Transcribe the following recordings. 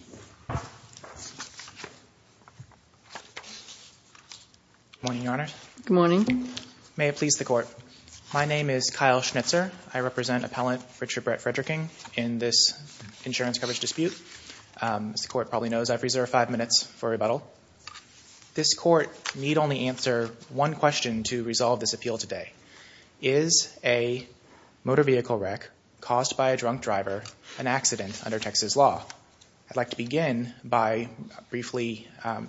Good morning, Your Honor. Good morning. May it please the Court. My name is Kyle Schnitzer. I represent appellant Richard Brett Frederking in this insurance coverage dispute. As the Court probably knows, I've reserved five minutes for rebuttal. This Court need only answer one question to resolve this appeal today. Is a motor vehicle wreck caused by a drunk driver an accident under Texas law? I'd like to begin by briefly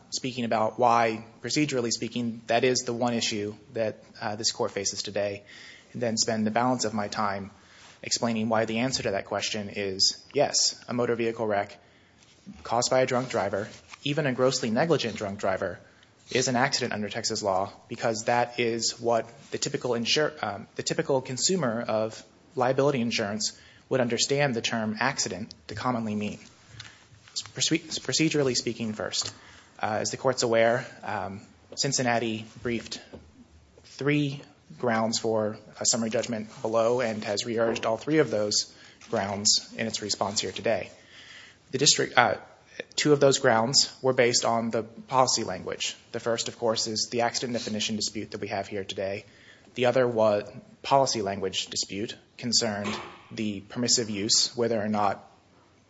speaking about why, procedurally speaking, that is the one issue that this Court faces today, and then spend the balance of my time explaining why the answer to that question is yes, a motor vehicle wreck caused by a drunk driver, even a grossly negligent drunk driver, is an accident under Texas law because that is what the typical consumer of liability insurance would understand the term accident to commonly mean. Procedurally speaking first, as the Court's aware, Cincinnati briefed three grounds for a summary judgment below and has re-urged all three of those grounds in its response here today. Two of those grounds were based on the policy language. The first, of course, is the accident definition dispute that we have here today. The other was policy language dispute concerned the permissive use, whether or not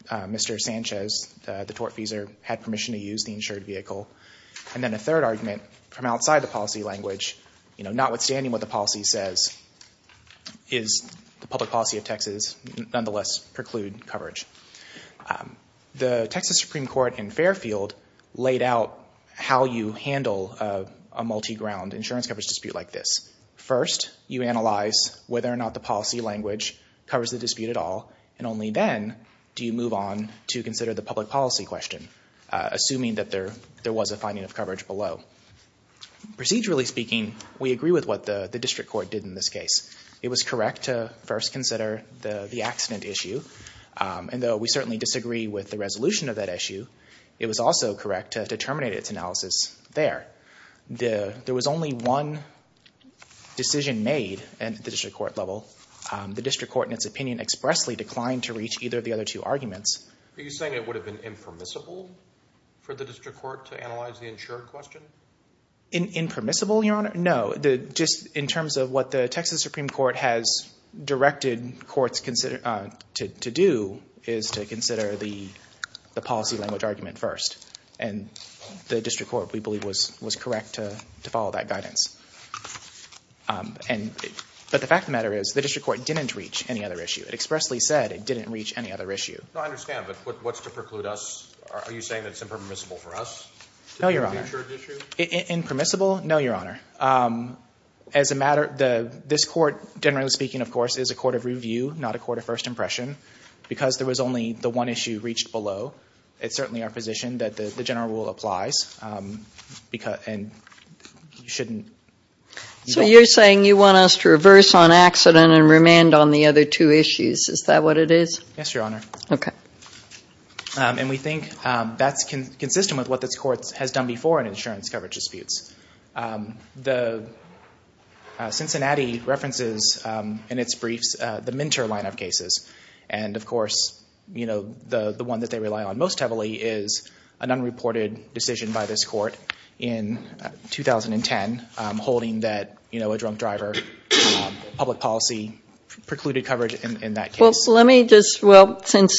Mr. Sanchez, the tortfeasor, had permission to use the insured vehicle. And then a third argument from outside the policy language, notwithstanding what the policy says, is the public policy of Texas nonetheless preclude coverage. The Texas Supreme Court in Fairfield laid out how you handle a multi-ground insurance coverage dispute like this. First, you analyze whether or not the policy language covers the dispute at all, and only then do you move on to consider the public policy question, assuming that there was a finding of coverage below. Procedurally speaking, we agree with what the district court did in this case. It was correct to first consider the accident issue, and though we certainly disagree with the resolution of that issue, it was also correct to terminate its analysis there. There was only one decision made at the district court level. The district court, in its opinion, expressly declined to reach either of the other two arguments. Are you saying it would have been impermissible for the district court to analyze the insured question? Impermissible, Your Honor? No. Just in terms of what the Texas Supreme Court has directed courts to do is to consider the policy language argument first, and the district court, we believe, was correct to follow that guidance. But the fact of the matter is, the district court didn't reach any other issue. It expressly said it didn't reach any other issue. No, I understand, but what's to preclude us? Are you saying that it's impermissible for us to do the insured issue? No, Your Honor. Impermissible? No, Your Honor. This court, generally speaking, of course, is a court of review, not a court of first impression, because there was only the one issue reached below. It's certainly our position that the general rule applies, and you shouldn't... So you're saying you want us to reverse on accident and remand on the other two issues. Is that what it is? Yes, Your Honor. Okay. And we think that's consistent with what this court has done before in insurance coverage briefs, the Minter line of cases. And, of course, the one that they rely on most heavily is an unreported decision by this court in 2010 holding that a drunk driver public policy precluded coverage in that case. Let me just... Well, let's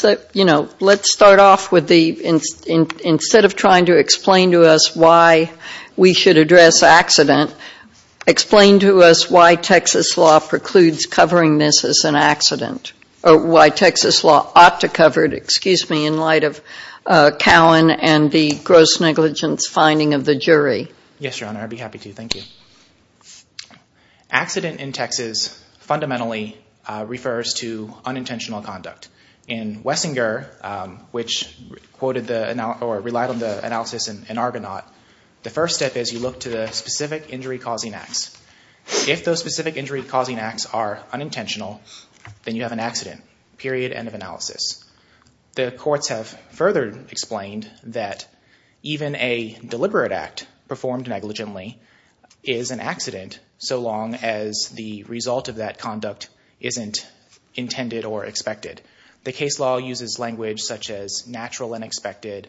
start off with the... Instead of trying to explain to us why we should address accident, explain to us why Texas law precludes covering this as an accident, or why Texas law ought to cover it, excuse me, in light of Cowen and the gross negligence finding of the jury. Yes, Your Honor. I'd be happy to. Thank you. Accident in Texas fundamentally refers to unintentional conduct. In Wessinger, which quoted or relied on the analysis in Argonaut, the first step is you look to the specific injury-causing acts. If those specific injury-causing acts are unintentional, then you have an accident, period, end of analysis. The courts have further explained that even a deliberate act performed negligently is an accident so long as the result of that conduct isn't intended or expected. The case law uses language such as natural, unexpected,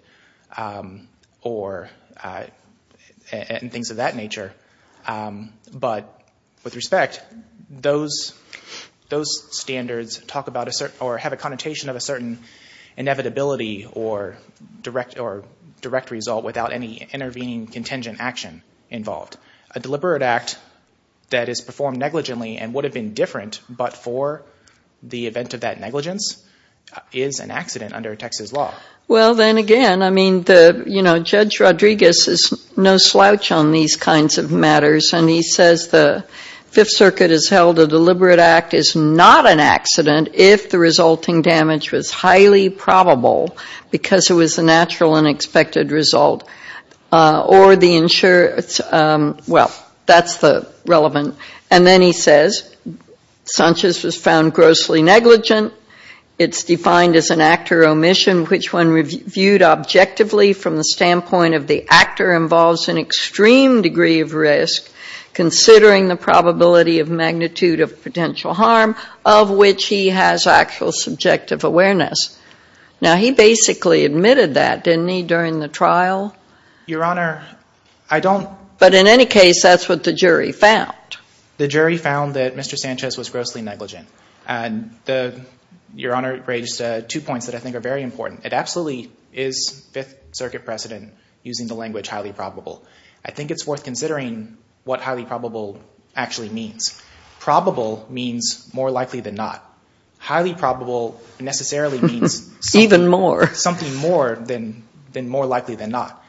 and things of that nature. But with respect, those standards have a connotation of a certain inevitability or direct result without any intervening contingent action involved. A deliberate act that is performed negligently and would have been different but for the same reason is an accident under Texas law. Well, then again, I mean, you know, Judge Rodriguez is no slouch on these kinds of matters and he says the Fifth Circuit has held a deliberate act is not an accident if the resulting damage was highly probable because it was a natural, unexpected result or the insurer, well, that's relevant. And then he says Sanchez was found grossly negligent. It's defined as an actor omission which when reviewed objectively from the standpoint of the actor involves an extreme degree of risk considering the probability of magnitude of potential harm of which he has actual subjective awareness. Now he basically admitted that, didn't he, during the trial? Your Honor, I don't But in any case, that's what the jury found. The jury found that Mr. Sanchez was grossly negligent. Your Honor raised two points that I think are very important. It absolutely is Fifth Circuit precedent using the language highly probable. I think it's worth considering what highly probable actually means. Probable means more likely than not. Highly probable necessarily means Even more. Something more than more likely than not.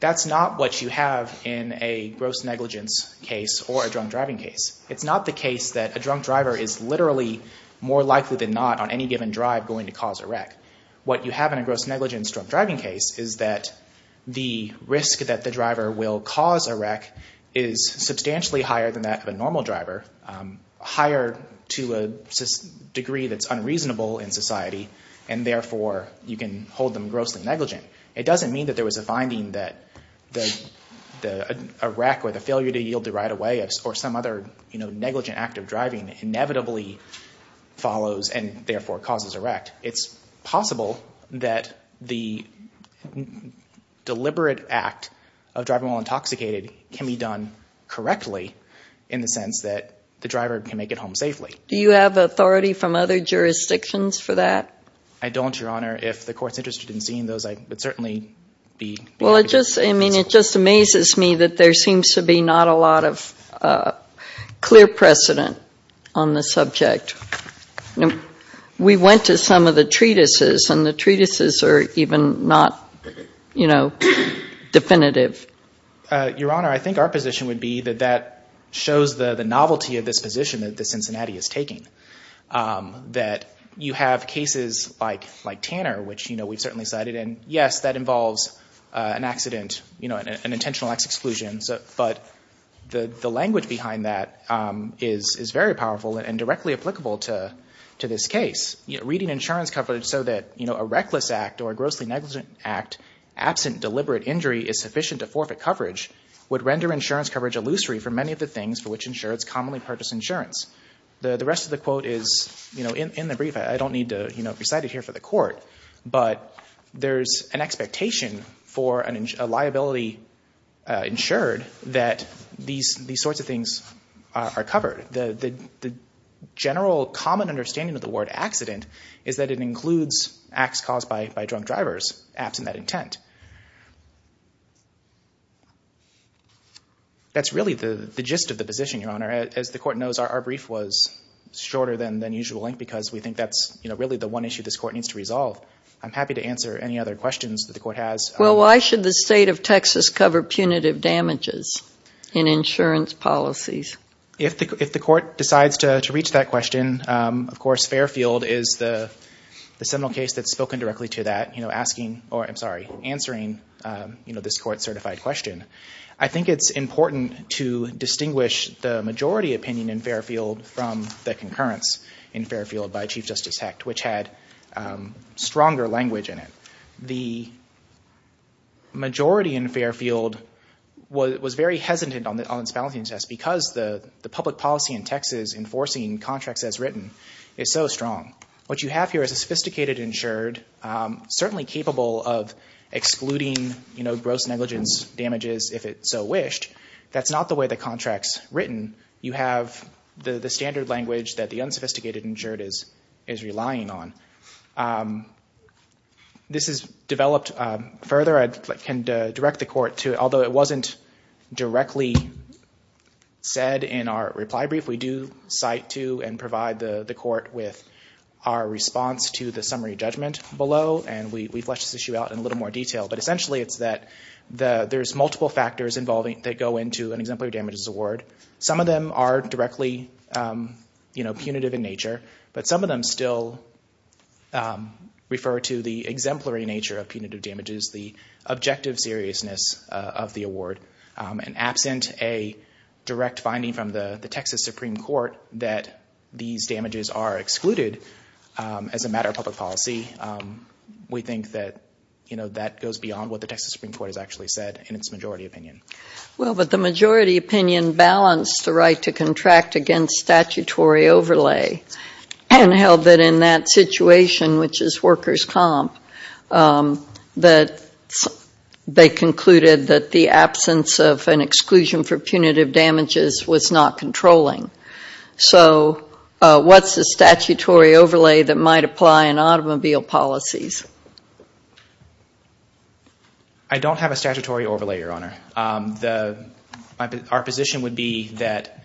That's not what you have in a gross negligence case or a drunk driving case. It's not the case that a drunk driver is literally more likely than not on any given drive going to cause a wreck. What you have in a gross negligence drunk driving case is that the risk that the driver will cause a wreck is substantially higher than that of a normal driver, higher to a degree that's unreasonable in society and therefore you can hold them grossly negligent. It doesn't mean that there was a finding that a wreck or the failure to yield the right of way or some other negligent act of driving inevitably follows and therefore causes a wreck. It's possible that the deliberate act of driving while intoxicated can be done correctly in the sense that the driver can make it home safely. Do you have authority from other jurisdictions for that? I don't, Your Honor. If the court's interested in seeing those, I would certainly be. Well, it just amazes me that there seems to be not a lot of clear precedent on the subject. We went to some of the treatises and the treatises are even not, you know, definitive. Your Honor, I think our position would be that that shows the novelty of this position that the Cincinnati is taking. That you have cases like Tanner, which we've certainly cited and yes, that involves an accident, you know, an intentional ex-exclusion, but the language behind that is very powerful and directly applicable to this case. Reading insurance coverage so that a reckless act or a grossly negligent act absent deliberate injury is sufficient to forfeit coverage would render insurance coverage illusory for many of the insurance, commonly purchased insurance. The rest of the quote is, you know, in the brief. I don't need to, you know, recite it here for the court, but there's an expectation for a liability insured that these sorts of things are covered. The general common understanding of the word accident is that it includes acts caused by drunk drivers absent that intent. That's really the gist of the position, Your Honor. As the court knows, our brief was shorter than usual length because we think that's, you know, really the one issue this court needs to resolve. I'm happy to answer any other questions that the court has. Well, why should the state of Texas cover punitive damages in insurance policies? If the court decides to reach that question, of course, Fairfield is the seminal case that's answering, you know, this court certified question. I think it's important to distinguish the majority opinion in Fairfield from the concurrence in Fairfield by Chief Justice Hecht, which had stronger language in it. The majority in Fairfield was very hesitant on this balancing test because the public policy in Texas enforcing contracts as written is so strong. What you have here is a sophisticated insured, certainly capable of excluding, you know, gross negligence damages if it so wished. That's not the way the contract's written. You have the standard language that the unsophisticated insured is relying on. This has developed further. I can direct the court to, although it wasn't directly said in our reply brief, we do cite to and provide the court with our response to the summary judgment below, and we flesh this issue out in a little more detail. But essentially it's that there's multiple factors that go into an exemplary damages award. Some of them are directly punitive in nature, but some of them still refer to the exemplary nature of punitive damages, the objective seriousness of the award. And absent a direct finding from the Texas Supreme Court that these damages are excluded as a matter of public policy, we think that, you know, that goes beyond what the Texas Supreme Court has actually said in its majority opinion. Well, but the majority opinion balanced the right to contract against statutory overlay and held that in that situation, which is workers' comp, that they concluded that the absence of an exclusion for punitive damages was not controlling. So what's the statutory overlay that might apply in automobile policies? I don't have a statutory overlay, Your Honor. Our position would be that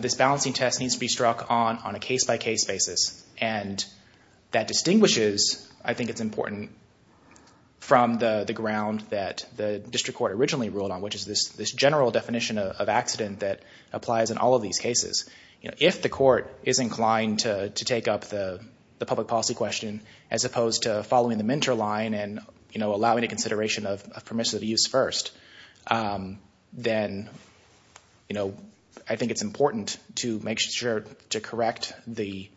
this balancing test needs to be struck on a case-by-case basis, and that distinguishes, I think it's important, from the ground that the district court originally ruled on, which is this general definition of accident that applies in all of these cases. If the court is inclined to take up the public policy question as opposed to following the Minter line and, you know, allowing a consideration of permissive use first, then, you know, I think it's important to make sure to correct the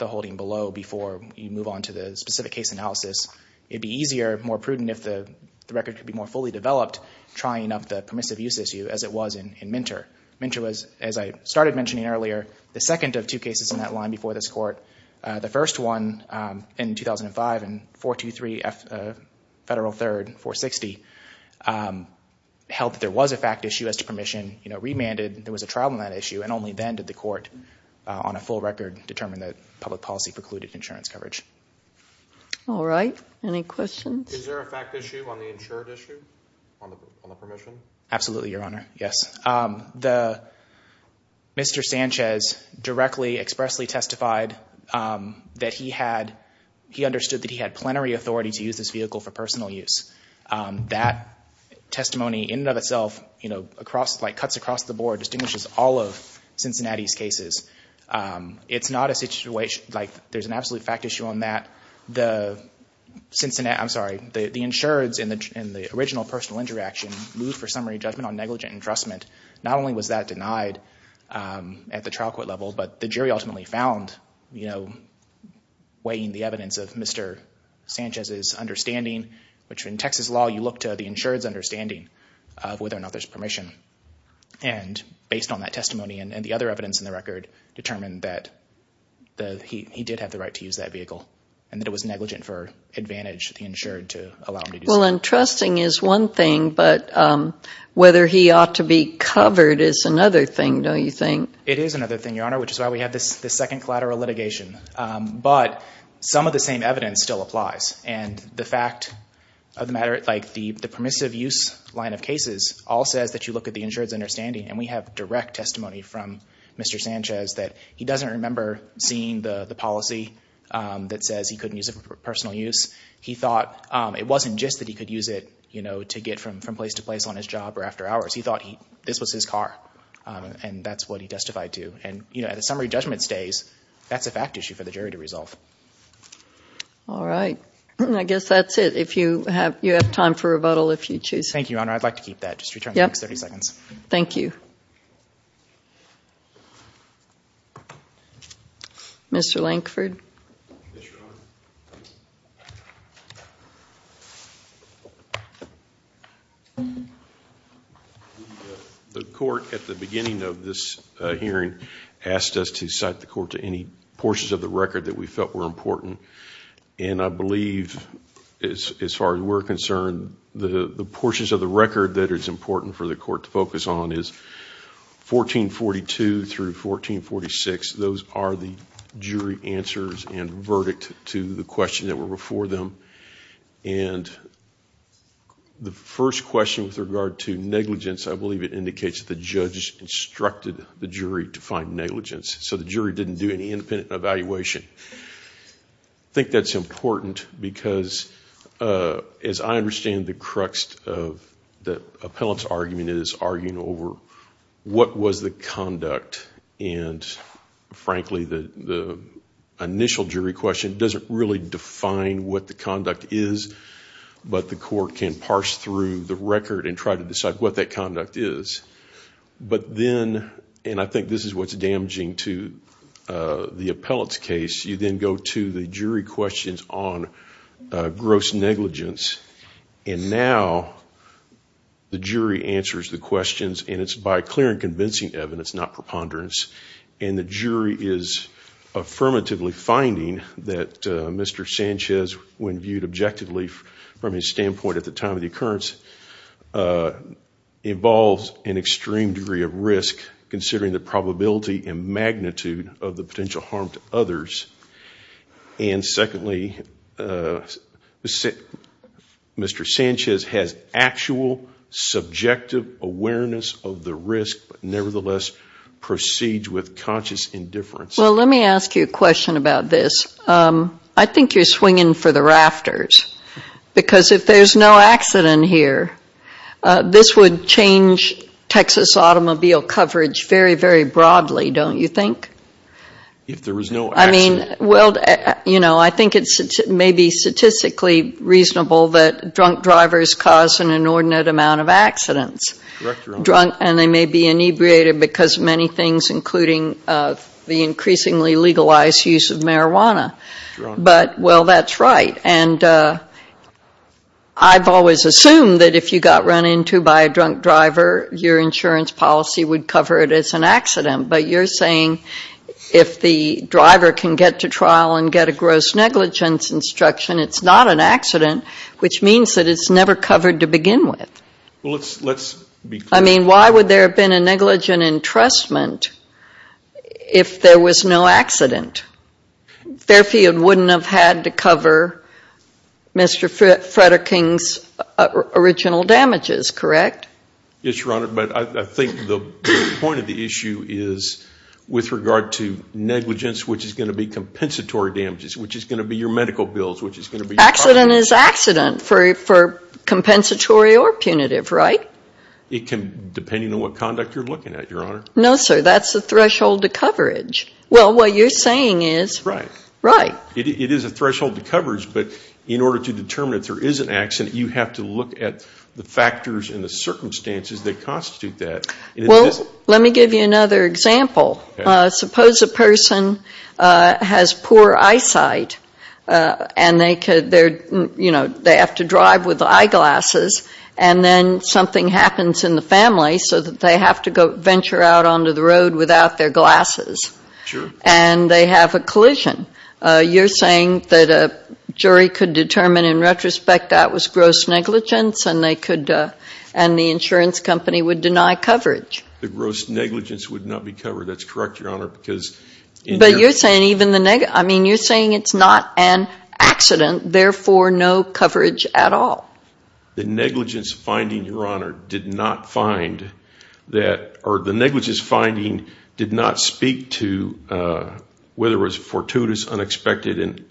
holding below before you move on to the specific case analysis. It'd be easier, more prudent if the record could be more fully developed, trying up the permissive use issue as it was in Minter. Minter was, as I started mentioning earlier, the second of two cases in that line before this court. The first one, in 2005, in 423 Federal 3rd, 460, held that there was a fact issue as to permission, you know, remanded, there was a trial on that issue, and only then did the court, on a full record, determine that public policy precluded insurance coverage. All right. Any questions? Is there a fact issue on the insured issue, on the permission? Absolutely, Your Honor. Yes. The, Mr. Sanchez directly, expressly testified that he had, he understood that he had plenary authority to use this vehicle for personal use. That testimony in and of itself, you know, across, like, cuts across the board, distinguishes all of Cincinnati's cases. It's not a situation, like, there's an absolute fact issue on that. The Cincinnati, I'm sorry, the insureds in the original personal injury action moved for summary judgment on negligent entrustment. Not only was that denied at the trial court level, but the jury ultimately found, you know, weighing the evidence of Mr. Sanchez's understanding, which in Texas law, you look to the insured's understanding of whether or not there's permission. And based on that testimony and the other evidence in the record, determined that he did have the right to use that vehicle, and that it was negligent for Well, entrusting is one thing, but whether he ought to be covered is another thing, don't you think? It is another thing, Your Honor, which is why we have this second collateral litigation. But some of the same evidence still applies. And the fact of the matter, like, the permissive use line of cases all says that you look at the insured's understanding, and we have direct testimony from Mr. Sanchez that he doesn't remember seeing the policy that says he couldn't personal use. He thought it wasn't just that he could use it, you know, to get from place to place on his job or after hours. He thought this was his car, and that's what he testified to. And, you know, at a summary judgment stays, that's a fact issue for the jury to resolve. All right. I guess that's it. If you have time for rebuttal, if you choose. Thank you, Your Honor. I'd like to keep that. Just return the next 30 seconds. Thank you. Mr. Lankford. Thank you, Your Honor. The court, at the beginning of this hearing, asked us to cite the court to any portions of the record that we felt were important. And I believe, as far as we're concerned, the portions of the record that it's important for the court to focus on is 1442 through 1446. Those are the questions that were before them. And the first question with regard to negligence, I believe it indicates that the judge instructed the jury to find negligence. So the jury didn't do any independent evaluation. I think that's important because, as I understand the crux of the appellant's argument, it is arguing over what was the conduct. And, frankly, the initial jury question doesn't really define what the conduct is, but the court can parse through the record and try to decide what that conduct is. But then, and I think this is what's damaging to the appellant's case, you then go to the jury questions on gross negligence. And now, the jury answers the questions, and it's by clear and convincing evidence, not preponderance. And the jury is affirmatively finding that Mr. Sanchez, when viewed objectively from his standpoint at the time of the occurrence, involves an extreme degree of risk, considering the probability and magnitude of the potential harm to others. And secondly, Mr. Sanchez has actual subjective awareness of the risk, but nevertheless proceeds with conscious indifference. Well, let me ask you a question about this. I think you're swinging for the rafters. Because if there's no accident here, this would change Texas automobile coverage very, very broadly, don't you think? If there was no accident. I mean, well, you know, I think it's maybe statistically reasonable that drunk drivers cause an inordinate amount of accidents. Drunk, and they may be inebriated because many things, including the increasingly legalized use of marijuana. But, well, that's right. And I've always assumed that if you got run into by a drunk driver, your insurance policy would cover it as an accident. But you're saying if the driver can get to trial and get a gross negligence instruction, it's not an accident, which means that it's never covered to begin with. Let's be clear. I mean, why would there have been a negligent entrustment if there was no accident? Fairfield wouldn't have had to cover Mr. Frederick's original damages, correct? Yes, Your Honor, but I think the point of the issue is with regard to negligence, which is going to be compensatory damages, which is going to be your medical bills, which is going to be- Accident is accident for compensatory or punitive, right? It can, depending on what conduct you're looking at, Your Honor. No, sir. That's the threshold to coverage. Well, what you're saying is- Right. Right. It is a threshold to coverage, but in order to determine if there is an accident, you have to look at the factors and the circumstances that constitute that. Well, let me give you another example. Suppose a person has poor eyesight and they have to drive with eyeglasses, and then something happens in the family so that they have to venture out onto the road without their glasses. Sure. And they have a collision. You're saying that a jury could determine in retrospect that was gross negligence and the insurance company would deny coverage. The gross negligence would not be covered. That's correct, Your Honor, because- But you're saying it's not an accident, therefore no coverage at all. The negligence finding, Your Honor, did not find that... or the negligence finding did not speak to whether it was a fortuitous, unexpected, and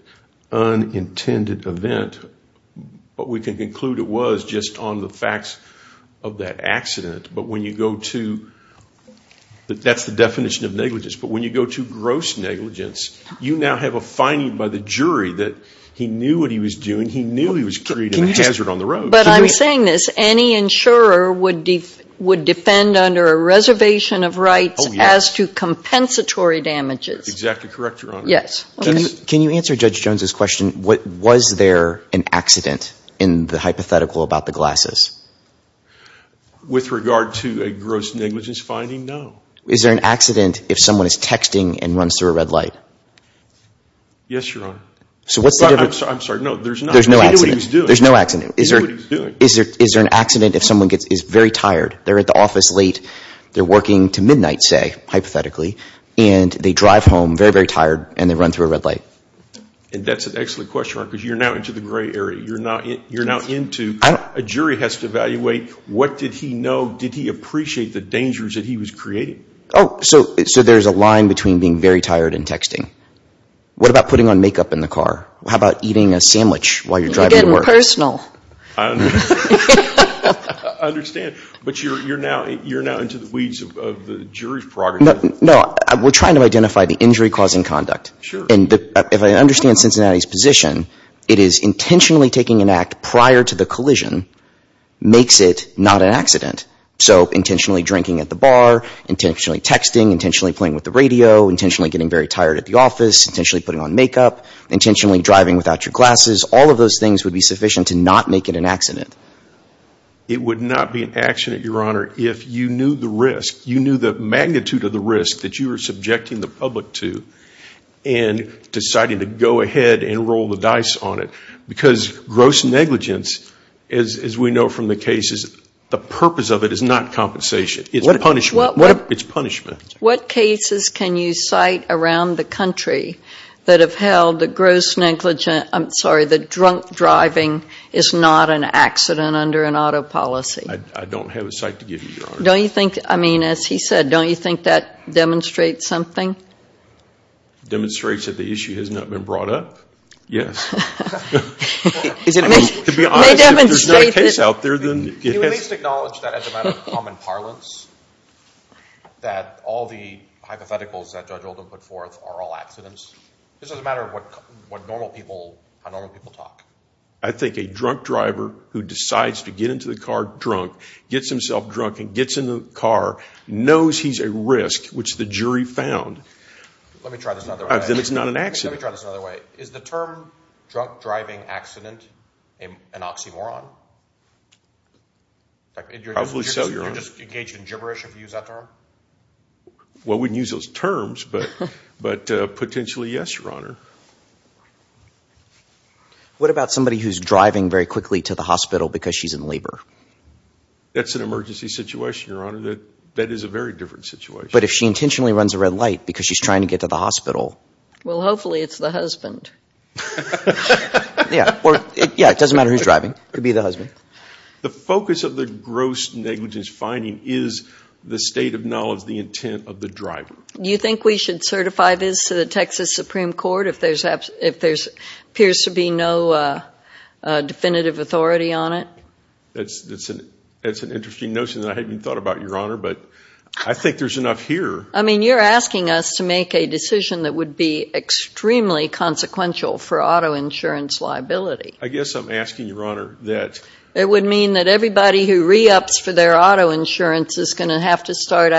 unintended event. What we can conclude it was just on the facts of that accident, but when you go to... you now have a finding by the jury that he knew what he was doing. He knew he was creating a hazard on the road. But I'm saying this. Any insurer would defend under a reservation of rights as to compensatory damages. Exactly correct, Your Honor. Yes. Can you answer Judge Jones's question? Was there an accident in the hypothetical about the glasses? With regard to a gross negligence finding, no. Is there an accident if someone is texting and runs through a red light? Yes, Your Honor. So what's the difference? I'm sorry. No, there's not. There's no accident. He knew what he was doing. There's no accident. He knew what he was doing. Is there an accident if someone is very tired? They're at the office late. They're working to midnight, say, hypothetically, and they drive home very, very tired and they run through a red light. And that's an excellent question, Your Honor, because you're now into the gray area. You're now into... a jury has to evaluate what did he know? Did he appreciate the Oh, so there's a line between being very tired and texting. What about putting on makeup in the car? How about eating a sandwich while you're driving to work? You're getting personal. I understand. But you're now into the weeds of the jury's prerogative. No, we're trying to identify the injury-causing conduct. Sure. And if I understand Cincinnati's position, it is intentionally taking an act prior to the collision makes it not an accident. So intentionally drinking at the bar, intentionally texting, intentionally playing with the radio, intentionally getting very tired at the office, intentionally putting on makeup, intentionally driving without your glasses. All of those things would be sufficient to not make it an accident. It would not be an accident, Your Honor, if you knew the risk. You knew the magnitude of the risk that you were subjecting the public to and deciding to go ahead and roll the dice on it. Because gross negligence, as we know from the cases, the purpose of it is not compensation. It's punishment. It's punishment. What cases can you cite around the country that have held that gross negligence, I'm sorry, that drunk driving is not an accident under an auto policy? I don't have a cite to give you, Your Honor. Don't you think, I mean, as he said, don't you think that demonstrates something? Demonstrates that the issue has not been brought up? Yes. I mean, to be honest, if there's not a case out there, then yes. Can you at least acknowledge that as a matter of common parlance, that all the hypotheticals that Judge Oldham put forth are all accidents? This is a matter of what normal people, how normal people talk. I think a drunk driver who decides to get into the car drunk, gets himself drunk and gets in the car, knows he's at risk, which the jury found. Let me try this another way. Then it's not an accident. Let me try this another way. Is the term drunk driving accident an oxymoron? Probably so, Your Honor. You're just engaged in gibberish if you use that term? Well, we wouldn't use those terms, but potentially yes, Your Honor. What about somebody who's driving very quickly to the hospital because she's in labor? That's an emergency situation, Your Honor. That is a very different situation. But if she intentionally runs a red light because she's trying to get to the hospital? Well, hopefully it's the husband. Yeah, it doesn't matter who's driving. It could be the husband. The focus of the gross negligence finding is the state of knowledge, the intent of the driver. Do you think we should certify this to the Texas Supreme Court if there appears to be no definitive authority on it? That's an interesting notion that I hadn't thought about, Your Honor, but I think there's enough here. You're asking us to make a decision that would be extremely consequential for auto insurance liability. I guess I'm asking, Your Honor, that. It would mean that everybody who re-ups for their auto insurance is going to have to start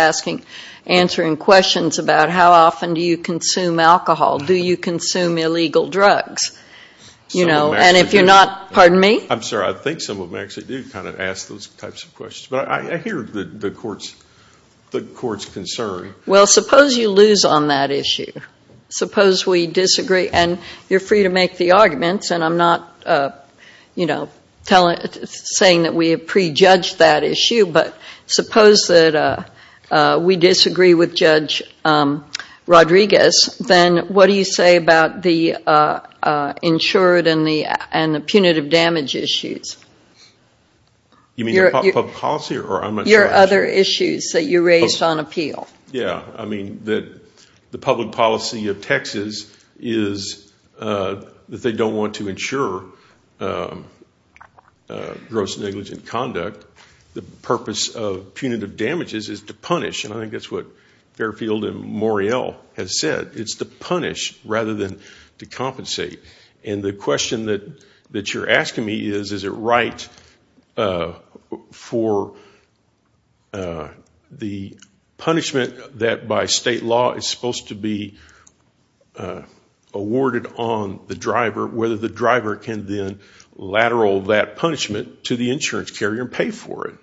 answering questions about how often do you consume alcohol? Do you consume illegal drugs? And if you're not, pardon me? I'm sorry. I think some of them actually do kind of ask those types of questions. I hear the Court's concern. Well, suppose you lose on that issue. Suppose we disagree, and you're free to make the arguments, and I'm not saying that we have prejudged that issue, but suppose that we disagree with Judge Rodriguez, then what do you say about the insured and the punitive damage issues? You mean the public policy, or I'm not sure? Your other issues that you raised on appeal. Yeah, I mean that the public policy of Texas is that they don't want to insure gross negligent conduct. The purpose of punitive damages is to punish, and I think that's what Fairfield and Moriel It's to punish rather than to compensate. And the question that you're asking me is, is it right for the punishment that by state law is supposed to be awarded on the driver, whether the driver can then lateral that punishment to the insurance carrier and pay for it?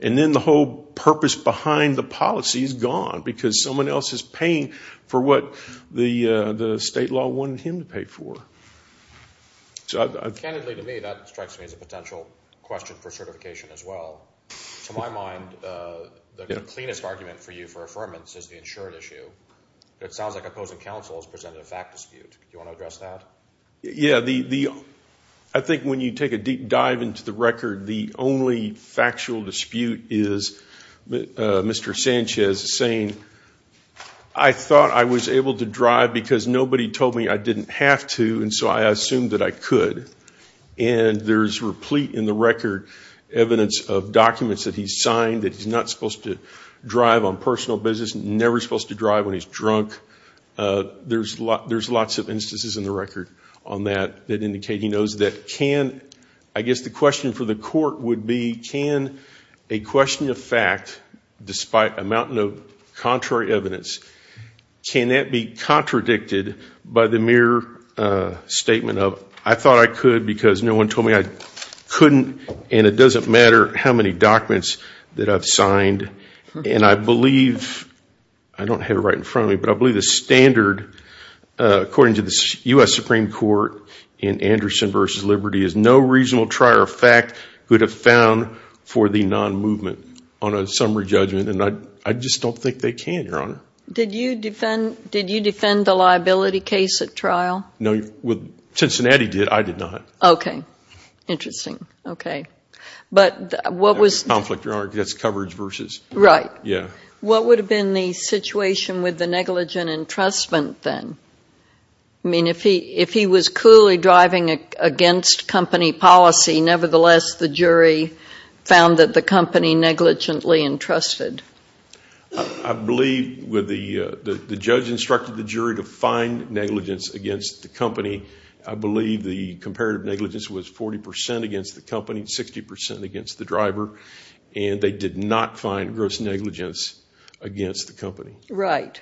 And then the whole purpose behind the policy is gone because someone else is paying for what the state law wanted him to pay for. So I've Candidly to me, that strikes me as a potential question for certification as well. To my mind, the cleanest argument for you for affirmance is the insured issue. It sounds like opposing counsel has presented a fact dispute. You want to address that? Yeah, I think when you take a deep dive into the record, the only factual dispute is Mr. Sanchez saying, I thought I was able to drive because nobody told me I didn't have to. And so I assumed that I could. And there's replete in the record evidence of documents that he's signed that he's not supposed to drive on personal business, never supposed to drive when he's drunk. There's lots of instances in the record on that that indicate he knows that can, I guess the question for the court would be, can a question of fact, despite a mountain of contrary evidence, can that be contradicted by the mere statement of, I thought I could because no one told me I couldn't. And it doesn't matter how many documents that I've signed. And I believe, I don't have it right in front of me, but I believe the standard, according to the U.S. Supreme Court in Anderson v. Liberty, is no reasonable trier of fact could have found for the non-movement on a summary judgment. And I just don't think they can, Your Honor. Did you defend the liability case at trial? No, Cincinnati did. I did not. Okay. Interesting. Okay. But what was- Conflict, Your Honor, that's coverage versus- Right. Yeah. What would have been the situation with the negligent entrustment then? I mean, if he was clearly driving against company policy, nevertheless, the jury found that the company negligently entrusted. I believe the judge instructed the jury to find negligence against the company. I believe the comparative negligence was 40 percent against the company, 60 percent against the driver, and they did not find gross negligence against the company. Right.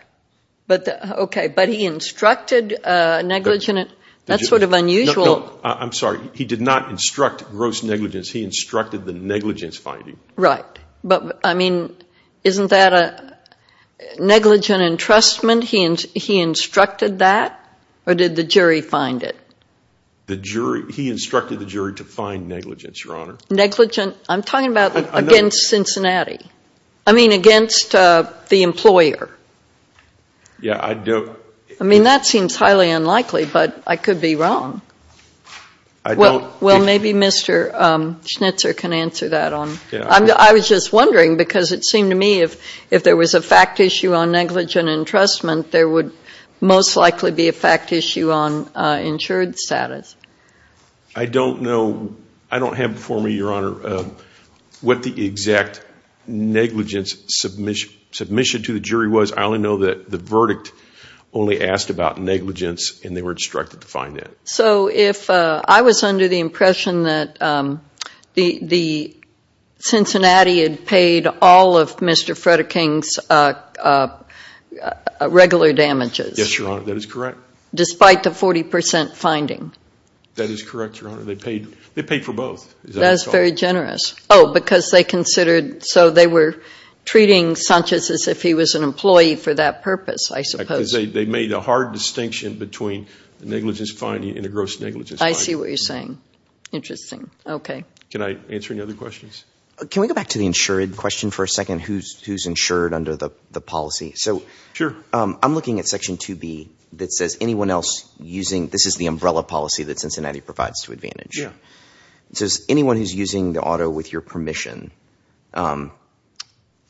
Okay. But he instructed negligent- That's sort of unusual. I'm sorry. He did not instruct gross negligence. He instructed the negligence finding. Right. But, I mean, isn't that a negligent entrustment? He instructed that? Or did the jury find it? He instructed the jury to find negligence, Your Honor. I'm talking about against Cincinnati. I mean, against the employer. Yeah, I do. I mean, that seems highly unlikely, but I could be wrong. I don't- Well, maybe Mr. Schnitzer can answer that. I was just wondering because it seemed to me if there was a fact issue on negligent entrustment, there would most likely be a fact issue on insured status. I don't know. I don't have before me, Your Honor, what the exact negligence submission to the jury was. I only know that the verdict only asked about negligence, and they were instructed to find it. So if I was under the impression that the Cincinnati had paid all of Mr. Frederick King's regular damages- Yes, Your Honor. That is correct. Despite the 40 percent finding. That is correct, Your Honor. They paid for both, as I recall. That's very generous. Oh, because they considered, so they were treating Sanchez as if he was an employee for that purpose, I suppose. They made a hard distinction between negligence finding and a gross negligence finding. I see what you're saying. Interesting. Okay. Can I answer any other questions? Can we go back to the insured question for a second? Who's insured under the policy? So- Sure. I'm looking at Section 2B that says anyone else using- provides to Advantage. It says anyone who's using the auto with your permission.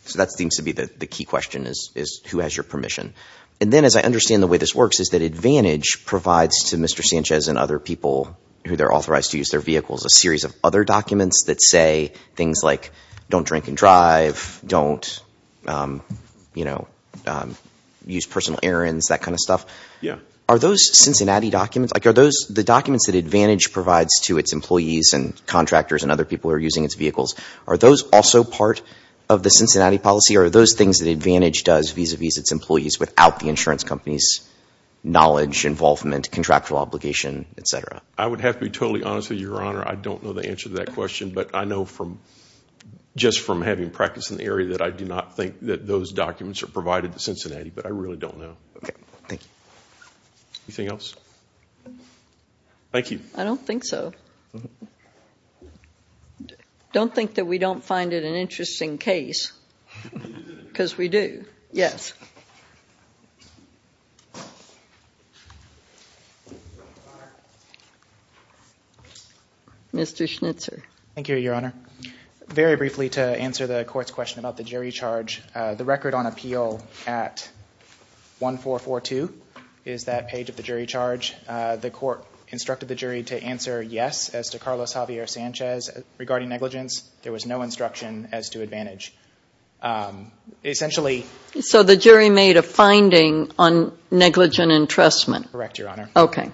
So that seems to be the key question is who has your permission. And then as I understand the way this works is that Advantage provides to Mr. Sanchez and other people who they're authorized to use their vehicles a series of other documents that say things like don't drink and drive, don't use personal errands, that kind of stuff. Yeah. Are those Cincinnati documents? The documents that Advantage provides to its employees and contractors and other people who are using its vehicles, are those also part of the Cincinnati policy or are those things that Advantage does vis-a-vis its employees without the insurance company's knowledge, involvement, contractual obligation, et cetera? I would have to be totally honest with you, Your Honor. I don't know the answer to that question. But I know from just from having practice in the area that I do not think that those documents are provided to Cincinnati. But I really don't know. Okay. Thank you. Anything else? Thank you. I don't think so. Don't think that we don't find it an interesting case because we do. Yes. Mr. Schnitzer. Thank you, Your Honor. Very briefly to answer the court's question about the jury charge. The record on appeal at 1442 is that page of the jury charge. The court instructed the jury to answer yes as to Carlos Javier Sanchez regarding negligence. There was no instruction as to Advantage. Essentially. So the jury made a finding on negligent entrustment? Correct, Your Honor. Okay.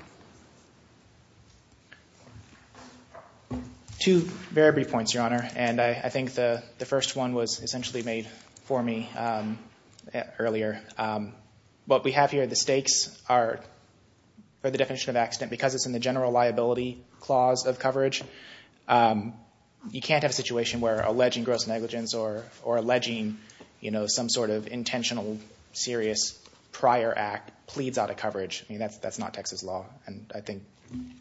Two very brief points, Your Honor. And I think the first one was essentially made for me earlier. What we have here, the stakes are, for the definition of accident, because it's in the general liability clause of coverage. You can't have a situation where alleging gross negligence or alleging, you know, some sort of intentional serious prior act pleads out of coverage. I mean, that's not Texas law. And I think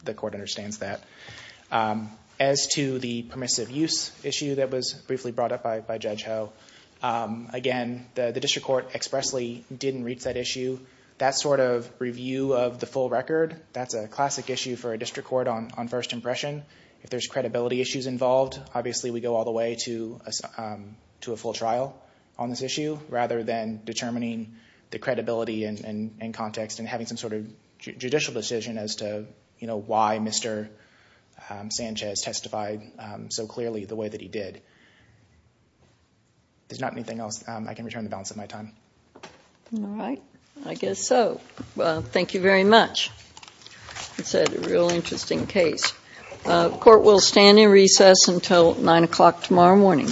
the court understands that. As to the permissive use issue that was briefly brought up by Judge Ho. Again, the district court expressly didn't reach that issue. That sort of review of the full record, that's a classic issue for a district court on first impression. If there's credibility issues involved, obviously we go all the way to a full trial on this issue, rather than determining the credibility and context and having some sort of judicial decision as to, you know, why Mr. Sanchez testified so clearly the way that he did. There's not anything else I can return the balance of my time. All right, I guess so. Well, thank you very much. It's a real interesting case. Court will stand in recess until nine o'clock tomorrow morning.